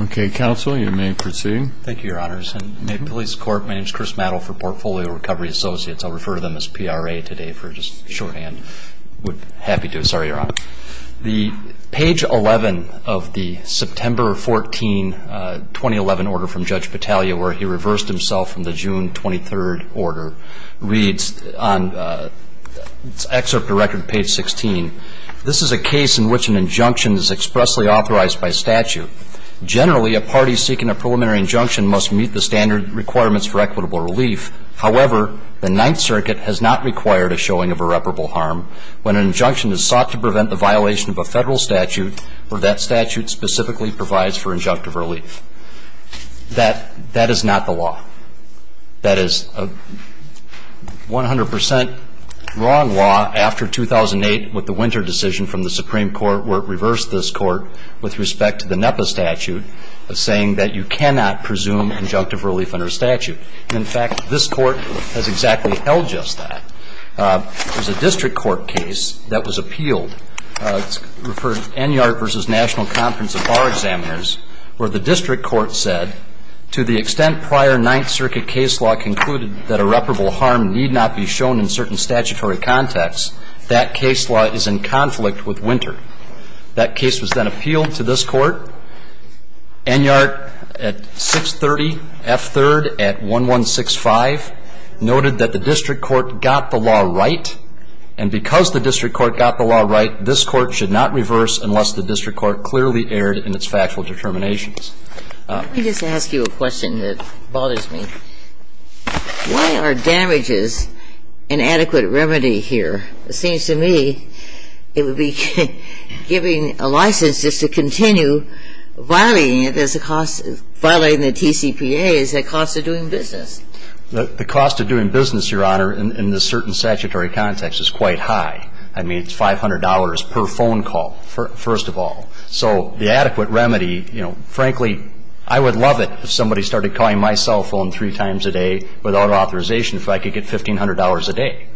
Okay, counsel, you may proceed. Thank you, your honors. And may it please the court, my name is Chris Mattel for Portfolio Recovery Associates. I'll refer to them as PRA today for just shorthand, would be happy to. Sorry, your honor. The page 11 of the September 14, 2011 order from Judge Battaglia where he reversed himself from the June 23rd order reads on excerpt directed to page 16, This is a case in which an injunction is expressly authorized by statute. Generally, a party seeking a preliminary injunction must meet the standard requirements for equitable relief. However, the Ninth Circuit has not required a showing of irreparable harm when an injunction is sought to prevent the violation of a federal statute or that statute specifically provides for injunctive relief. That is not the law. That is a 100% wrong law after 2008 with the Winter decision from the Supreme Court where it reversed this court with respect to the NEPA statute saying that you cannot presume injunctive relief under statute. In fact, this court has exactly held just that. There's a district court case that was appealed. It's referred to Enyart v. National Conference of Bar Examiners where the district court said to the extent prior Ninth Circuit case law concluded that irreparable harm need not be shown in certain statutory context, that case law is in conflict with Winter. That case was then appealed to this court. Enyart at 630 F. 3rd at 1165 noted that the district court got the law right and because the district court got the law right, this court should not reverse unless the district court clearly erred in its factual determinations. Let me just ask you a question that bothers me. Why are damages an adequate remedy here? It seems to me it would be giving a license just to continue violating it as a cost, violating the TCPA as a cost of doing business. The cost of doing business, Your Honor, in this certain statutory context is quite high. I mean, it's $500 per phone call, first of all. So the adequate remedy, you know, frankly, I would love it if somebody started calling my cell phone three times a day without authorization if I could get $1,500 a day.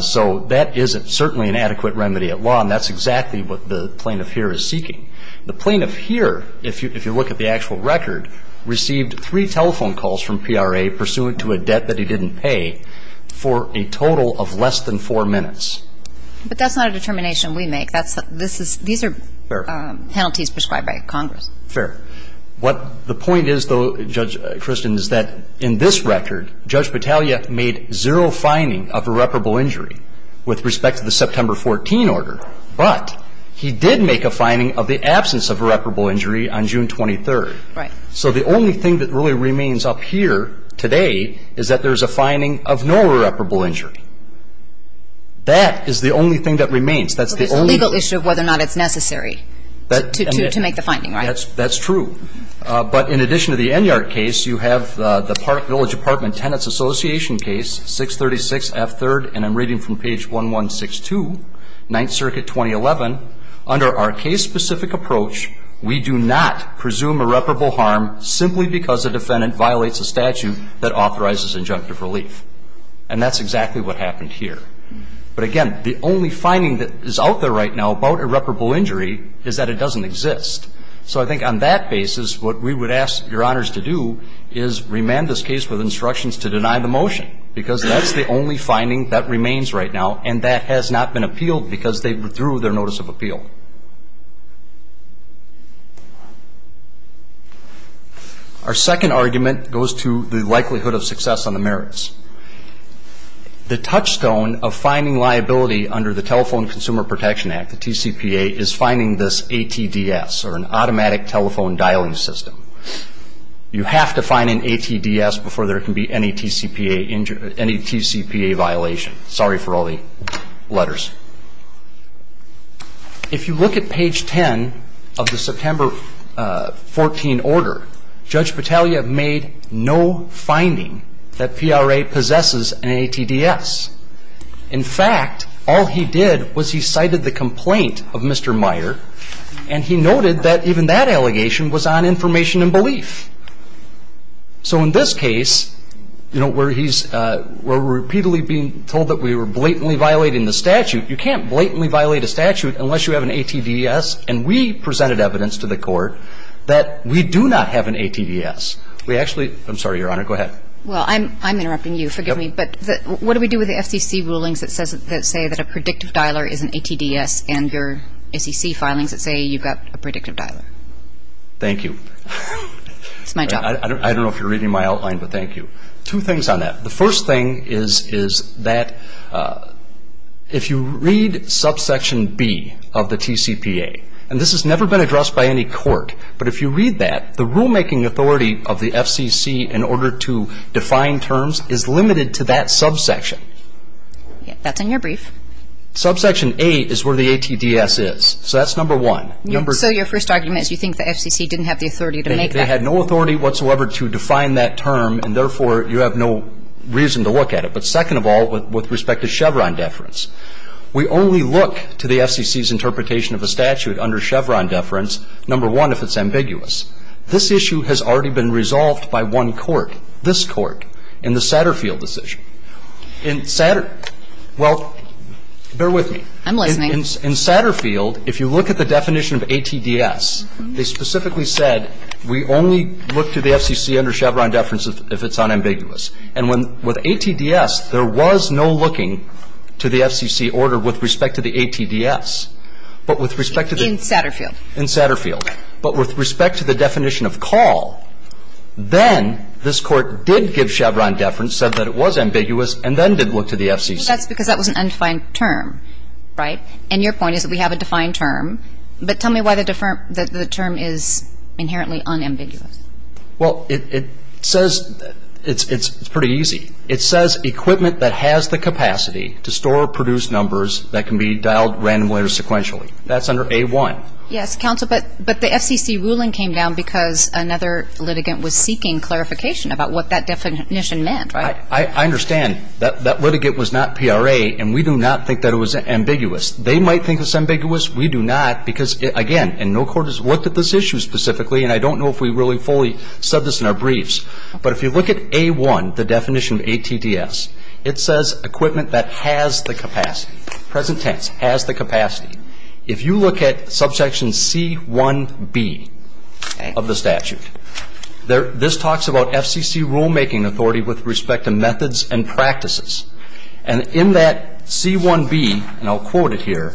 So that isn't certainly an adequate remedy at law, and that's exactly what the plaintiff here is seeking. The plaintiff here, if you look at the actual record, received three telephone calls from PRA pursuant to a debt that he didn't pay for a total of less than four minutes. But that's not a determination we make. That's the – this is – these are penalties prescribed by Congress. Fair. What the point is, though, Judge Christian, is that in this record, Judge Battaglia made zero finding of irreparable injury with respect to the September 14 order. But he did make a finding of the absence of irreparable injury on June 23. Right. So the only thing that really remains up here today is that there's a finding of no irreparable injury. That is the only thing that remains. That's the only – Well, there's the legal issue of whether or not it's necessary to make the finding, right? That's true. But in addition to the Enyart case, you have the Park Village Apartment Tenants Association case, 636F3rd, and I'm reading from page 1162, 9th Circuit, 2011. Under our case-specific approach, we do not presume irreparable harm simply because a defendant violates a statute that authorizes injunctive relief. And that's exactly what happened here. But again, the only finding that is out there right now about irreparable injury is that it doesn't exist. So I think on that basis, what we would ask Your Honors to do is remand this case with instructions to deny the motion, because that's the only finding that remains right now, and that has not been appealed because they withdrew their notice of appeal. Our second argument goes to the likelihood of success on the merits. The touchstone of finding liability under the Telephone Consumer Protection Act, the TCPA, is finding this ATDS, or an automatic telephone dialing system. You have to find an ATDS before there can be any TCPA violation. Sorry for all the letters. If you look at page 10 of the September 14 order, Judge Battaglia made no finding that PRA possesses an ATDS. In fact, all he did was he cited the complaint of Mr. Meyer, and he noted that even that allegation was on information and belief. So in this case, where he's repeatedly being told that we were blatantly violating the statute, you can't blatantly violate a statute unless you have an ATDS, and we presented evidence to the court that we do not have an ATDS. We actually, I'm sorry, Your Honor, go ahead. Well, I'm interrupting you, forgive me, but what do we do with the FCC rulings that say that a predictive dialer is an ATDS, and your SEC filings that say you've got a predictive dialer? Thank you. It's my job. I don't know if you're reading my outline, but thank you. Two things on that. The first thing is that if you read subsection B of the TCPA, and this has never been addressed by any court, but if you read that, the rulemaking authority of the FCC in order to define terms is limited to that subsection. That's in your brief. Subsection A is where the ATDS is, so that's number one. So your first argument is you think the FCC didn't have the authority to make that? They had no authority whatsoever to define that term, and therefore, you have no reason to look at it. But second of all, with respect to Chevron deference, we only look to the FCC's interpretation of a statute under Chevron deference, number one, if it's ambiguous. This issue has already been resolved by one court, this court, in the Satterfield decision. In Satterfield, well, bear with me. I'm listening. In Satterfield, if you look at the definition of ATDS, they specifically said we only look to the FCC under Chevron deference if it's unambiguous. And with ATDS, there was no looking to the FCC order with respect to the ATDS. But with respect to the ---- In Satterfield. In Satterfield. But with respect to the definition of call, then this Court did give Chevron deference, said that it was ambiguous, and then did look to the FCC. That's because that was an undefined term, right? And your point is that we have a defined term. But tell me why the term is inherently unambiguous. Well, it says ---- it's pretty easy. It says equipment that has the capacity to store or produce numbers that can be dialed randomly or sequentially. That's under A1. Yes, counsel, but the FCC ruling came down because another litigant was seeking clarification about what that definition meant, right? I understand. That litigant was not PRA, and we do not think that it was ambiguous. They might think it's ambiguous. We do not because, again, and no court has looked at this issue specifically, and I don't know if we really fully said this in our briefs. But if you look at A1, the definition of ATDS, it says equipment that has the capacity, present tense, has the capacity. If you look at subsection C1b of the statute, this talks about FCC rulemaking authority with respect to methods and practices. And in that C1b, and I'll quote it here,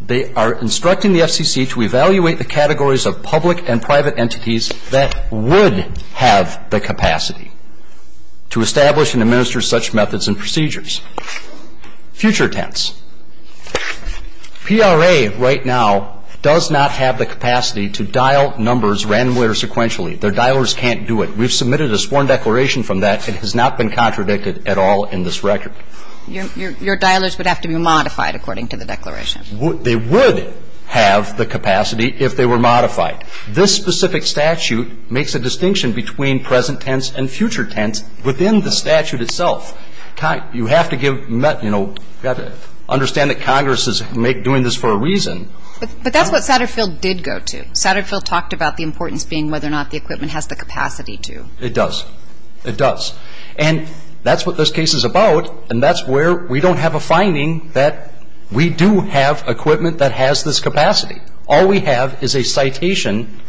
they are instructing the FCC to evaluate the categories of public and private entities that would have the capacity to establish and administer such methods and procedures. Future tense. PRA right now does not have the capacity to dial numbers randomly or sequentially. Their dialers can't do it. We've submitted a sworn declaration from that. It has not been contradicted at all in this record. Your dialers would have to be modified according to the declaration. They would have the capacity if they were modified. This specific statute makes a distinction between present tense and future tense within the statute itself. You have to give, you know, understand that Congress is doing this for a reason. But that's what Satterfield did go to. Satterfield talked about the importance being whether or not the equipment has the capacity to. It does. It does. And that's what this case is about. And that's where we don't have a finding that we do have equipment that has this capacity. All we have is a citation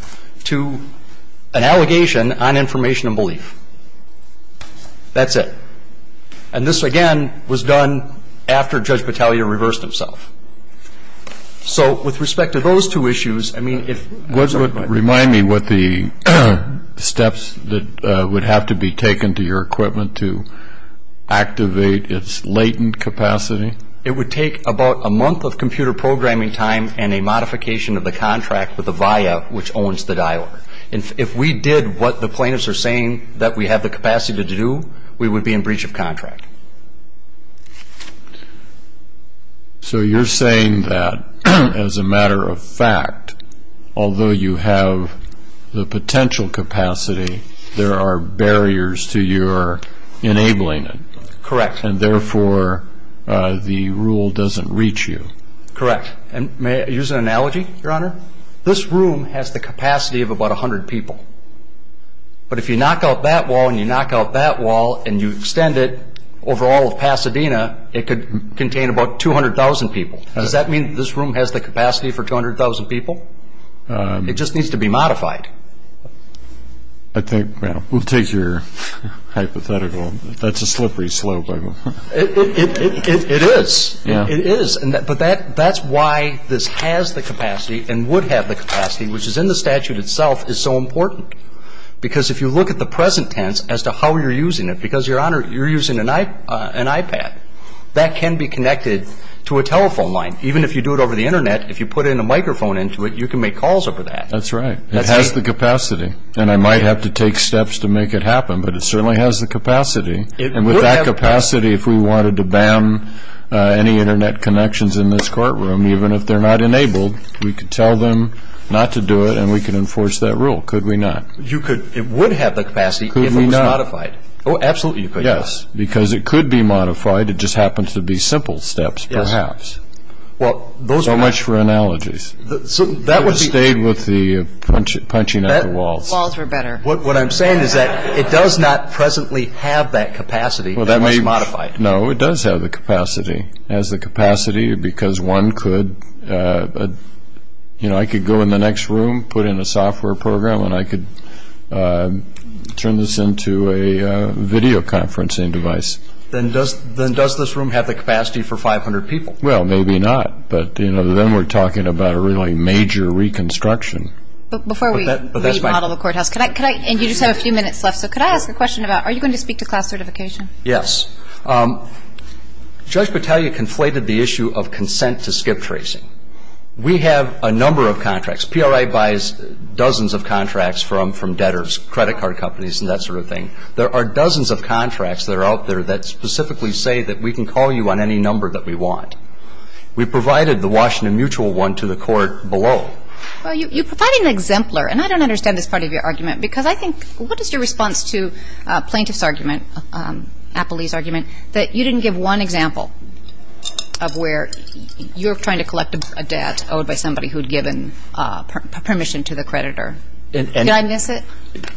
to an allegation on information and belief. That's it. And this, again, was done after Judge Battaglia reversed himself. So with respect to those two issues, I mean, if we're talking about. Tell me what the steps that would have to be taken to your equipment to activate its latent capacity. It would take about a month of computer programming time and a modification of the contract with Avaya, which owns the dialer. If we did what the plaintiffs are saying that we have the capacity to do, we would be in breach of contract. So you're saying that as a matter of fact, although you have the potential capacity, there are barriers to your enabling it. Correct. And therefore, the rule doesn't reach you. Correct. And may I use an analogy, Your Honor? This room has the capacity of about 100 people. But if you knock out that wall and you knock out that wall and you extend it, over all of Pasadena, it could contain about 200,000 people. Does that mean that this room has the capacity for 200,000 people? It just needs to be modified. I think we'll take your hypothetical. That's a slippery slope. It is. It is. But that's why this has the capacity and would have the capacity, which is in the statute itself is so important. Because if you look at the present tense as to how you're using it, because, Your Honor, you're using an iPad, that can be connected to a telephone line. Even if you do it over the Internet, if you put in a microphone into it, you can make calls over that. That's right. It has the capacity. And I might have to take steps to make it happen, but it certainly has the capacity. And with that capacity, if we wanted to ban any Internet connections in this courtroom, even if they're not enabled, we could tell them not to do it, and we could enforce that rule. Could we not? It would have the capacity if it was modified. Oh, absolutely you could. Yes, because it could be modified. It just happens to be simple steps, perhaps. Well, those are... So much for analogies. That would be... It would have stayed with the punching at the walls. Walls are better. What I'm saying is that it does not presently have that capacity. Well, that might be modified. No, it does have the capacity. It has the capacity because one could... You know, I could go in the next room, put in a software program, and I could turn this into a video conferencing device. Then does this room have the capacity for 500 people? Well, maybe not. But, you know, then we're talking about a really major reconstruction. But before we remodel the courthouse, and you just have a few minutes left, so could I ask a question about are you going to speak to class certification? Yes. Judge Battaglia conflated the issue of consent to skip tracing. We have a number of contracts. PRI buys dozens of contracts from debtors, credit card companies, and that sort of thing. There are dozens of contracts that are out there that specifically say that we can call you on any number that we want. We provided the Washington Mutual one to the court below. Well, you provided an exemplar, and I don't understand this part of your argument because I think what is your response to a plaintiff's argument, Appleby's argument, that you didn't give one example of where you're trying to collect a debt owed by somebody who had given permission to the creditor? Did I miss it?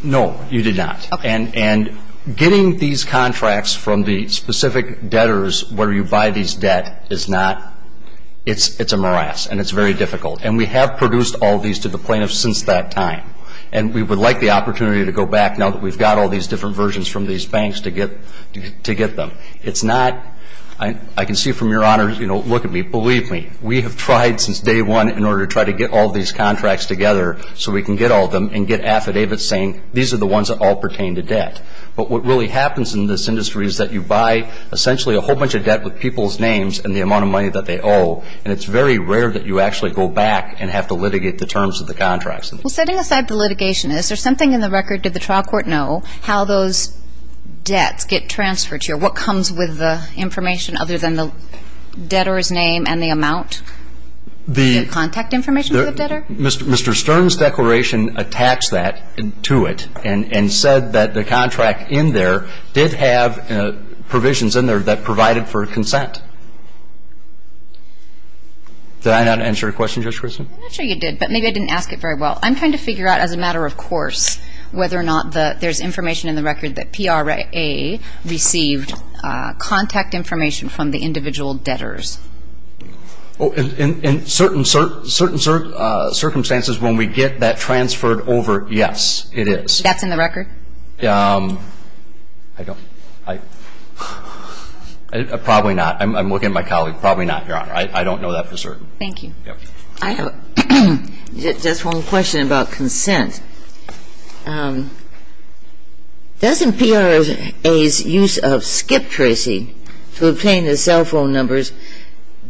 No, you did not. And getting these contracts from the specific debtors where you buy these debt is not ñ it's a morass, and it's very difficult. And we have produced all these to the plaintiffs since that time, and we would like the opportunity to go back now that we've got all these different versions from these banks to get them. It's not ñ I can see from your honor, you know, look at me, believe me, we have tried since day one in order to try to get all these contracts together so we can get all of them and get affidavits saying these are the ones that all pertain to debt. But what really happens in this industry is that you buy essentially a whole bunch of debt with people's names and the amount of money that they owe, and it's very rare that you actually go back and have to litigate the terms of the contracts. Well, setting aside the litigation, is there something in the record, did the trial court know, how those debts get transferred to you, what comes with the information other than the debtor's name and the amount? The ñ The contact information for the debtor? Mr. Stern's declaration attacks that to it, and said that the contract in there did have provisions in there that provided for consent. Did I not answer your question, Judge Christin? I'm not sure you did, but maybe I didn't ask it very well. I'm trying to figure out as a matter of course whether or not there's information in the record that PRA received contact information from the individual debtors. In certain circumstances when we get that transferred over, yes, it is. That's in the record? Probably not. I'm looking at my colleague. Probably not, Your Honor. I don't know that for certain. Thank you. I have just one question about consent. Doesn't PRA's use of skip tracing to obtain the cell phone numbers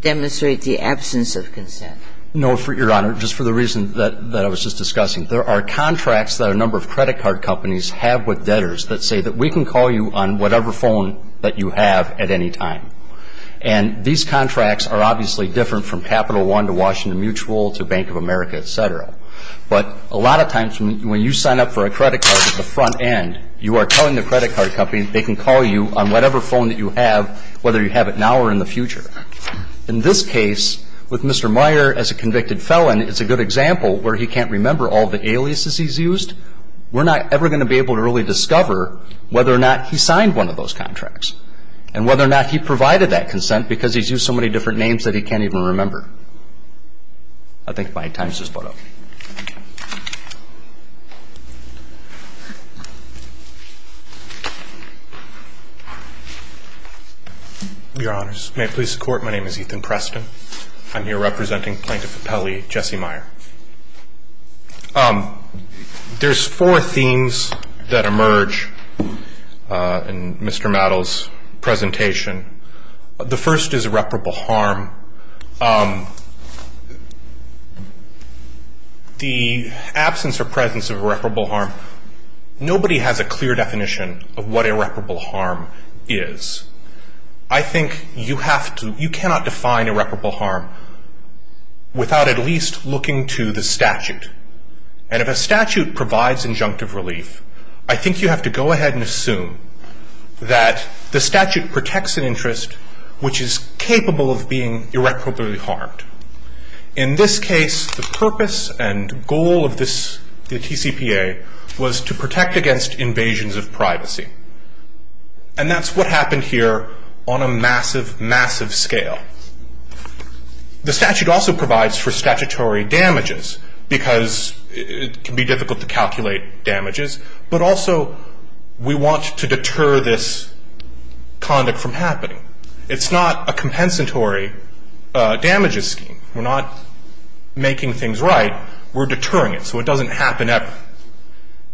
demonstrate the absence of consent? No, Your Honor, just for the reason that I was just discussing. There are contracts that a number of credit card companies have with debtors that say that we can call you on whatever phone that you have at any time. And these contracts are obviously different from Capital One to Washington Mutual to Bank of America, et cetera. But a lot of times when you sign up for a credit card at the front end, you are telling the credit card company they can call you on whatever phone that you have, whether you have it now or in the future. In this case, with Mr. Meyer as a convicted felon, it's a good example where he can't remember all the aliases he's used. We're not ever going to be able to really discover whether or not he signed one of those contracts and whether or not he provided that consent because he's used so many different names that he can't even remember. I think my time's just about up. Your Honors, may it please the Court, my name is Ethan Preston. I'm here representing Plaintiff Appellee Jesse Meyer. There's four themes that emerge in Mr. Mattel's presentation. The first is irreparable harm. The absence or presence of irreparable harm, nobody has a clear definition of what irreparable harm is. I think you cannot define irreparable harm without at least looking to the statute. And if a statute provides injunctive relief, I think you have to go ahead and assume that the statute protects an interest which is capable of being irreparably harmed. In this case, the purpose and goal of the TCPA was to protect against invasions of privacy. And that's what happened here on a massive, massive scale. The statute also provides for statutory damages because it can be difficult to calculate damages, but also we want to deter this conduct from happening. It's not a compensatory damages scheme. We're not making things right. We're deterring it so it doesn't happen ever.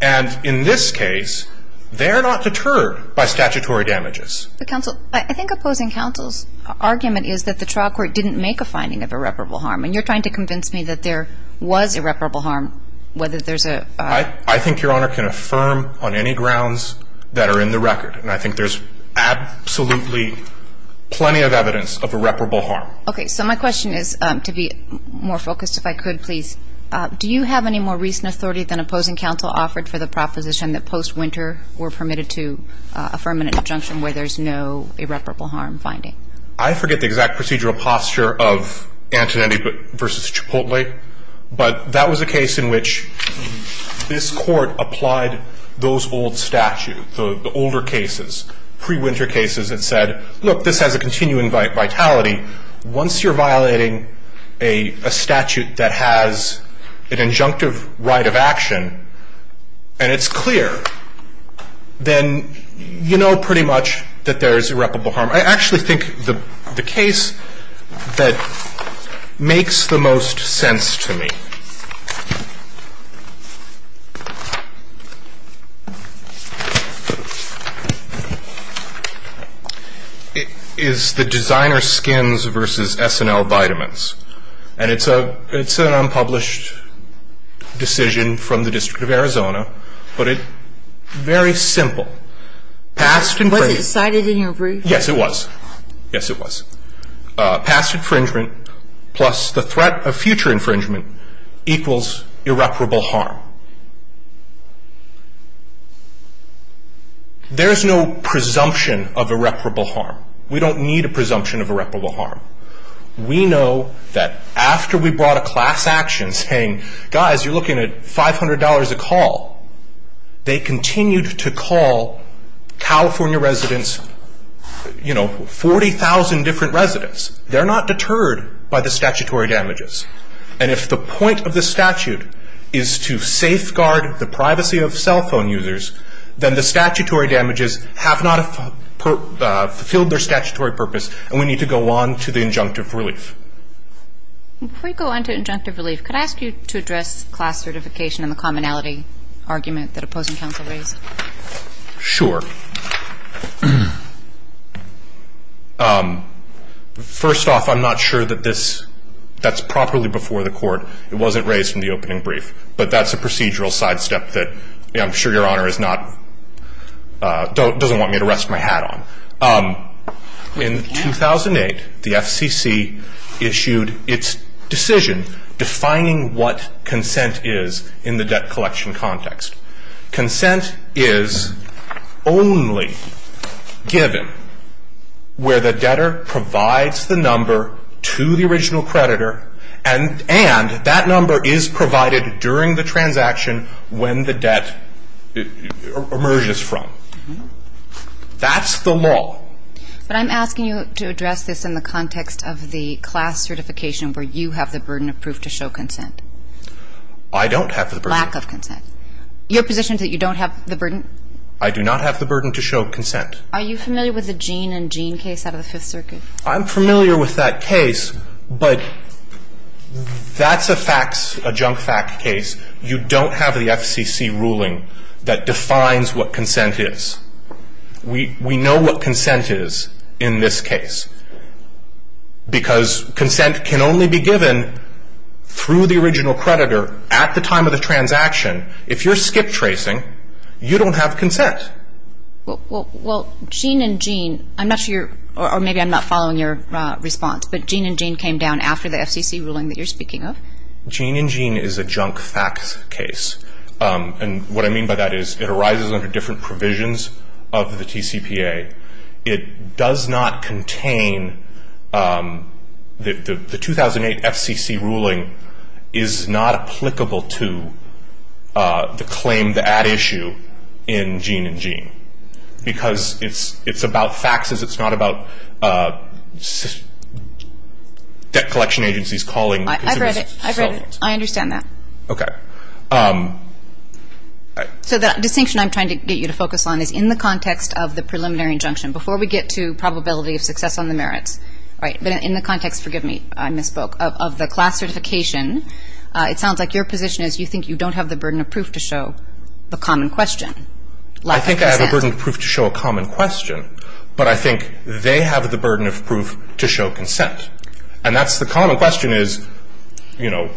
And in this case, they're not deterred by statutory damages. Counsel, I think opposing counsel's argument is that the trial court didn't make a finding of irreparable harm. And you're trying to convince me that there was irreparable harm, whether there's a... I think Your Honor can affirm on any grounds that are in the record. And I think there's absolutely plenty of evidence of irreparable harm. Okay. So my question is, to be more focused if I could, please. Do you have any more recent authority than opposing counsel offered for the proposition that post-winter were permitted to affirm an injunction where there's no irreparable harm finding? I forget the exact procedural posture of Antonetti v. Chipotle, but that was a case in which this court applied those old statutes, the older cases, pre-winter cases, and said, look, this has a continuing vitality. Once you're violating a statute that has an injunctive right of action and it's clear, then you know pretty much that there's irreparable harm. I actually think the case that makes the most sense to me is the designer skins versus S&L vitamins. And it's an unpublished decision from the District of Arizona, but it's very simple. Was it cited in your brief? Yes, it was. Yes, it was. Past infringement plus the threat of future infringement equals irreparable harm. There's no presumption of irreparable harm. We don't need a presumption of irreparable harm. We know that after we brought a class action saying, guys, you're looking at $500 a call, they continued to call California residents, you know, 40,000 different residents. They're not deterred by the statutory damages. And if the point of the statute is to safeguard the privacy of cell phone users, then the statutory damages have not fulfilled their statutory purpose, and we need to go on to the injunctive relief. Before you go on to injunctive relief, could I ask you to address class certification and the commonality argument that opposing counsel raised? Sure. First off, I'm not sure that that's properly before the court. It wasn't raised in the opening brief, but that's a procedural sidestep that I'm sure Your Honor doesn't want me to rest my hat on. In 2008, the FCC issued its decision defining what consent is in the debt collection context. Consent is only given where the debtor provides the number to the original creditor and that number is provided during the transaction when the debt emerges from. That's the law. But I'm asking you to address this in the context of the class certification where you have the burden of proof to show consent. I don't have the burden of proof. I do not have the burden to show consent. Your position is that you don't have the burden? I do not have the burden to show consent. Are you familiar with the Gene and Gene case out of the Fifth Circuit? I'm familiar with that case, but that's a facts, a junk fact case. You don't have the FCC ruling that defines what consent is. We know what consent is in this case because consent can only be given through the original creditor at the time of the transaction. If you're skip tracing, you don't have consent. Well, Gene and Gene, I'm not sure you're, or maybe I'm not following your response, but Gene and Gene came down after the FCC ruling that you're speaking of? Gene and Gene is a junk facts case. And what I mean by that is it arises under different provisions of the TCPA. It does not contain, the 2008 FCC ruling is not applicable to the claim, the ad issue in Gene and Gene because it's about facts. It's not about debt collection agencies calling consumers. I've read it. I understand that. Okay. So the distinction I'm trying to get you to focus on is in the context of the preliminary injunction, before we get to probability of success on the merits, right, but in the context, forgive me, I misspoke, of the class certification, it sounds like your position is you think you don't have the burden of proof to show the common question. I think I have a burden of proof to show a common question, but I think they have the burden of proof to show consent. And that's the common question is, you know,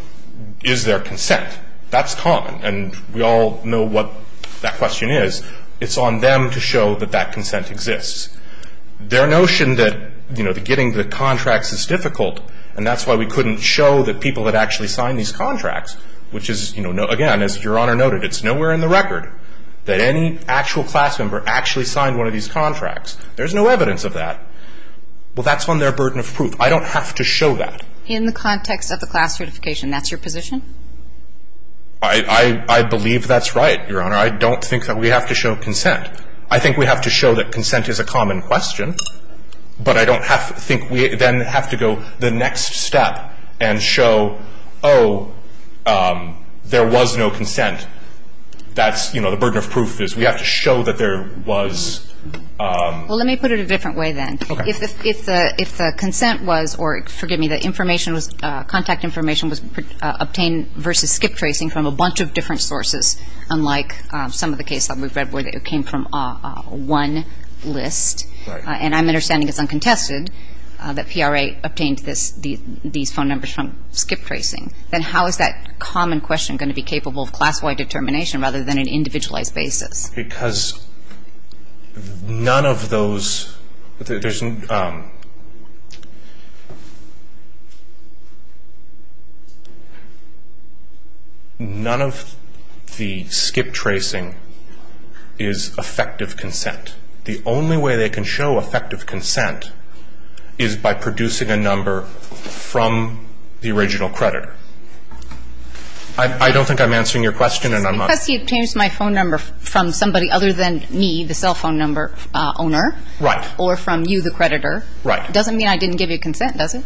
is there consent? That's common. And we all know what that question is. It's on them to show that that consent exists. Their notion that, you know, getting the contracts is difficult, and that's why we couldn't show that people had actually signed these contracts, which is, you know, again, as Your Honor noted, it's nowhere in the record that any actual class member actually signed one of these contracts. There's no evidence of that. Well, that's on their burden of proof. I don't have to show that. In the context of the class certification, that's your position? I believe that's right, Your Honor. I don't think that we have to show consent. I think we have to show that consent is a common question, but I don't think we then have to go the next step and show, oh, there was no consent. That's, you know, the burden of proof is we have to show that there was. Well, let me put it a different way then. Okay. If the consent was, or forgive me, the information was, contact information was obtained versus skip tracing from a bunch of different sources, unlike some of the cases that we've read where it came from one list, and I'm understanding it's uncontested that PRA obtained these phone numbers from skip tracing, then how is that common question going to be capable of class-wide determination rather than an individualized basis? Because none of those, none of the skip tracing is effective consent. The only way they can show effective consent is by producing a number from the original creditor. I don't think I'm answering your question. Because he obtained my phone number from somebody other than me, the cell phone number owner. Right. Or from you, the creditor. Right. Doesn't mean I didn't give you consent, does it?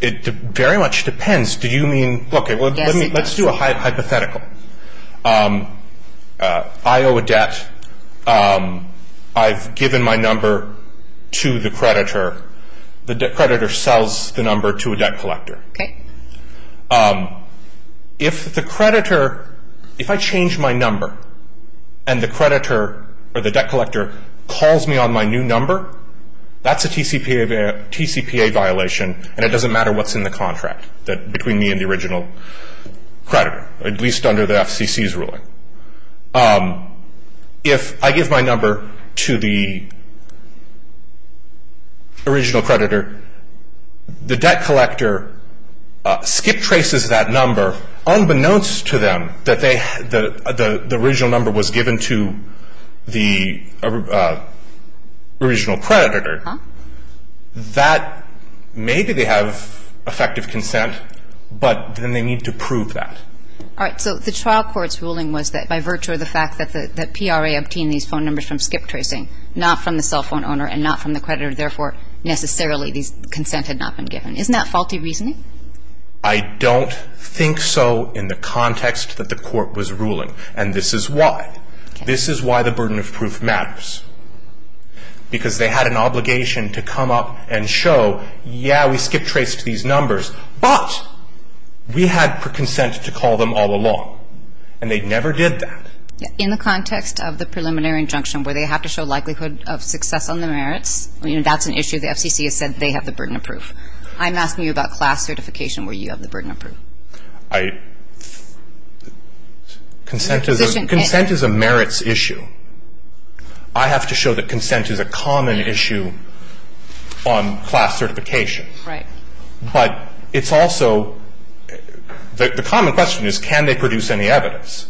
It very much depends. Do you mean, okay, let's do a hypothetical. I owe a debt. I've given my number to the creditor. The creditor sells the number to a debt collector. Okay. If the creditor, if I change my number and the creditor or the debt collector calls me on my new number, that's a TCPA violation and it doesn't matter what's in the contract between me and the original creditor, at least under the FCC's ruling. If I give my number to the original creditor, the debt collector skip traces that number, unbeknownst to them that the original number was given to the original creditor, that maybe they have effective consent, but then they need to prove that. All right. So the trial court's ruling was that by virtue of the fact that the PRA obtained these phone numbers from skip tracing, not from the cell phone owner and not from the creditor, therefore necessarily this consent had not been given. Isn't that faulty reasoning? I don't think so in the context that the court was ruling, and this is why. This is why the burden of proof matters, because they had an obligation to come up and show, yeah, we skip traced these numbers, but we had consent to call them all along, and they never did that. In the context of the preliminary injunction where they have to show likelihood of success on the merits, that's an issue the FCC has said they have the burden of proof. I'm asking you about class certification where you have the burden of proof. Consent is a merits issue. I have to show that consent is a common issue on class certification. Right. But it's also the common question is can they produce any evidence.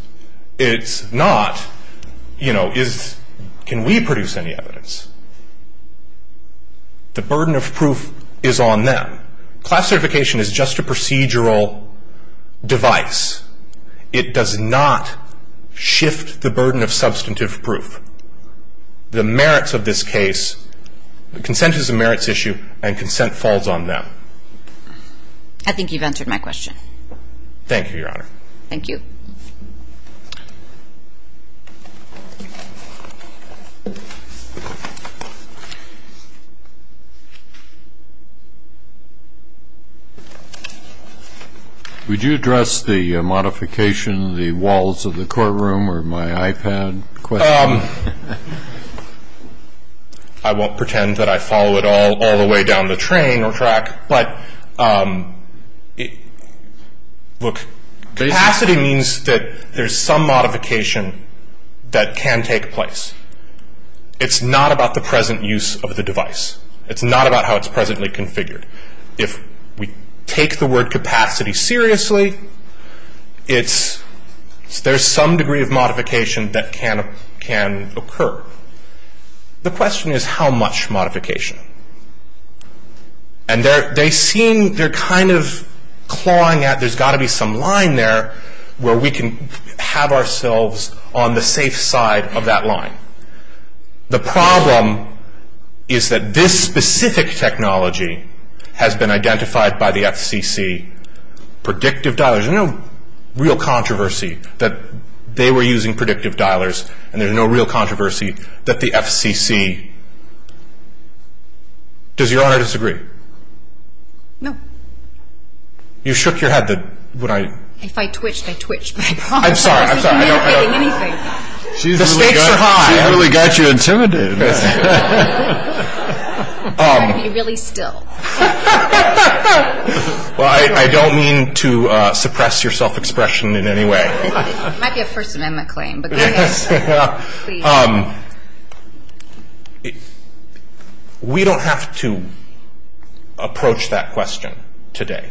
It's not, you know, is can we produce any evidence. The burden of proof is on them. Class certification is just a procedural device. It does not shift the burden of substantive proof. The merits of this case, consent is a merits issue, and consent falls on them. I think you've answered my question. Thank you, Your Honor. Thank you. Would you address the modification of the walls of the courtroom or my iPad question? I won't pretend that I follow it all the way down the train or track, but look, capacity means that there's some modification that can take place. It's not about the present use of the device. It's not about how it's presently configured. If we take the word capacity seriously, it's there's some degree of modification that can occur. The question is how much modification. And they seem, they're kind of clawing at, there's got to be some line there where we can have ourselves on the safe side of that line. The problem is that this specific technology has been identified by the FCC, the predictive dialers. There's no real controversy that they were using predictive dialers and there's no real controversy that the FCC. Does Your Honor disagree? No. You shook your head. If I twitched, I twitched. I'm sorry. The stakes are high. She really got you intimidated. I'm going to be really still. Well, I don't mean to suppress your self-expression in any way. It might be a First Amendment claim, but go ahead. We don't have to approach that question today,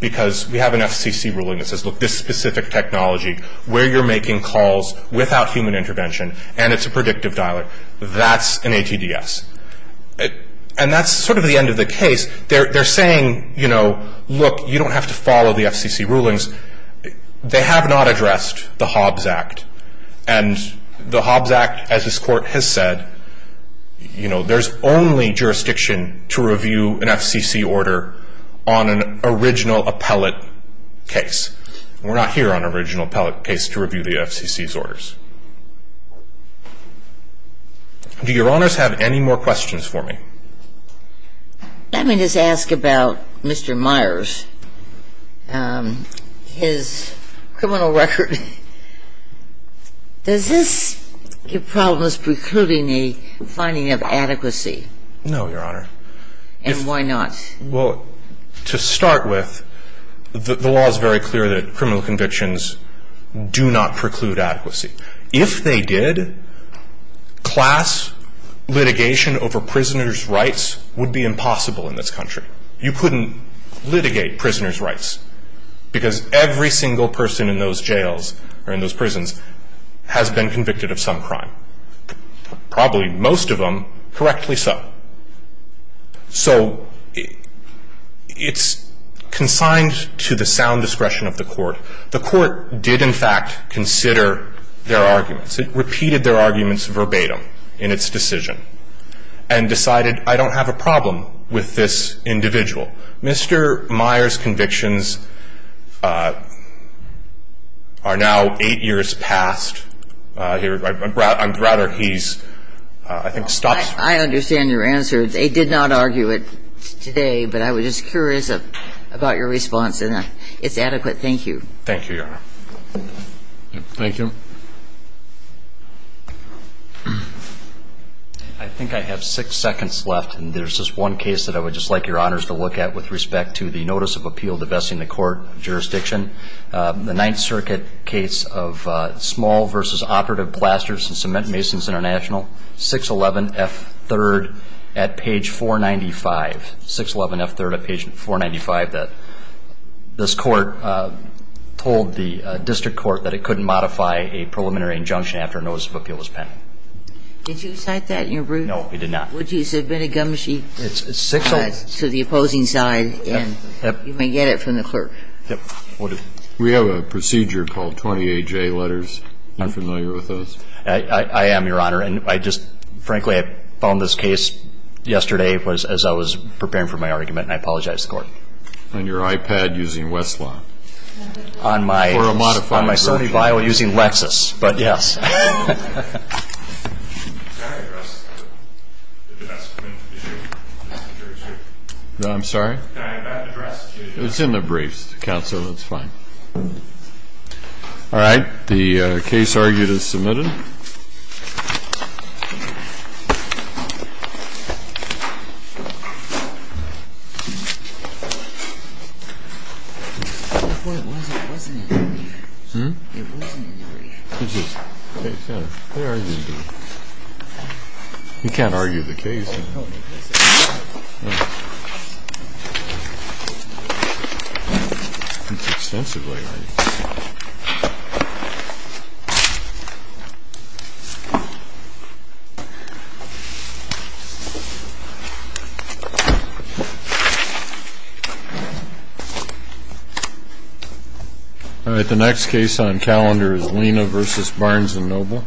because we have an FCC ruling that says, look, this specific technology, where you're making calls without human intervention, and it's a predictive dialer. That's an ATDS. And that's sort of the end of the case. They're saying, look, you don't have to follow the FCC rulings. They have not addressed the Hobbs Act, and the Hobbs Act, as this Court has said, there's only jurisdiction to review an FCC order on an original appellate case. We're not here on an original appellate case to review the FCC's orders. Do Your Honors have any more questions for me? Let me just ask about Mr. Myers, his criminal record. Does this give problems precluding a finding of adequacy? No, Your Honor. And why not? Well, to start with, the law is very clear that criminal convictions do not preclude adequacy. If they did, class litigation over prisoners' rights would be impossible in this country. You couldn't litigate prisoners' rights, because every single person in those jails or in those prisons has been convicted of some crime, probably most of them, correctly so. So it's consigned to the sound discretion of the Court. The Court did, in fact, consider their arguments. It repeated their arguments verbatim in its decision and decided, I don't have a problem with this individual. Mr. Myers' convictions are now eight years past. I'm rather he's, I think, stopped. I understand your answer. They did not argue it today, but I was just curious about your response. And it's adequate. Thank you. Thank you, Your Honor. Thank you. I think I have six seconds left, and there's just one case that I would just like Your Honors to look at with respect to the Notice of Appeal divesting the Court of Jurisdiction, the Ninth Circuit case of Small v. Operative Plasters and Cement Masons International, 611F3rd at page 495, 611F3rd at page 495, that this Court told the district court that it couldn't modify a preliminary injunction after a Notice of Appeal was pending. Did you cite that in your brief? No, we did not. Would you submit a gum sheet to the opposing side, and you may get it from the clerk. Yep. We have a procedure called 28J letters. You're familiar with those? I am, Your Honor. And I just, frankly, I found this case yesterday as I was preparing for my argument, and I apologize to the Court. On your iPad using Westlaw. Or a modified version. On my Sony Vio using Lexus, but yes. Can I address the judge? I'm sorry? Can I address the judge? It's in the briefs, Counsel. It's fine. All right. The case argued is submitted. You can't argue the case. All right. The next case on calendar is Lena v. Barnes & Noble.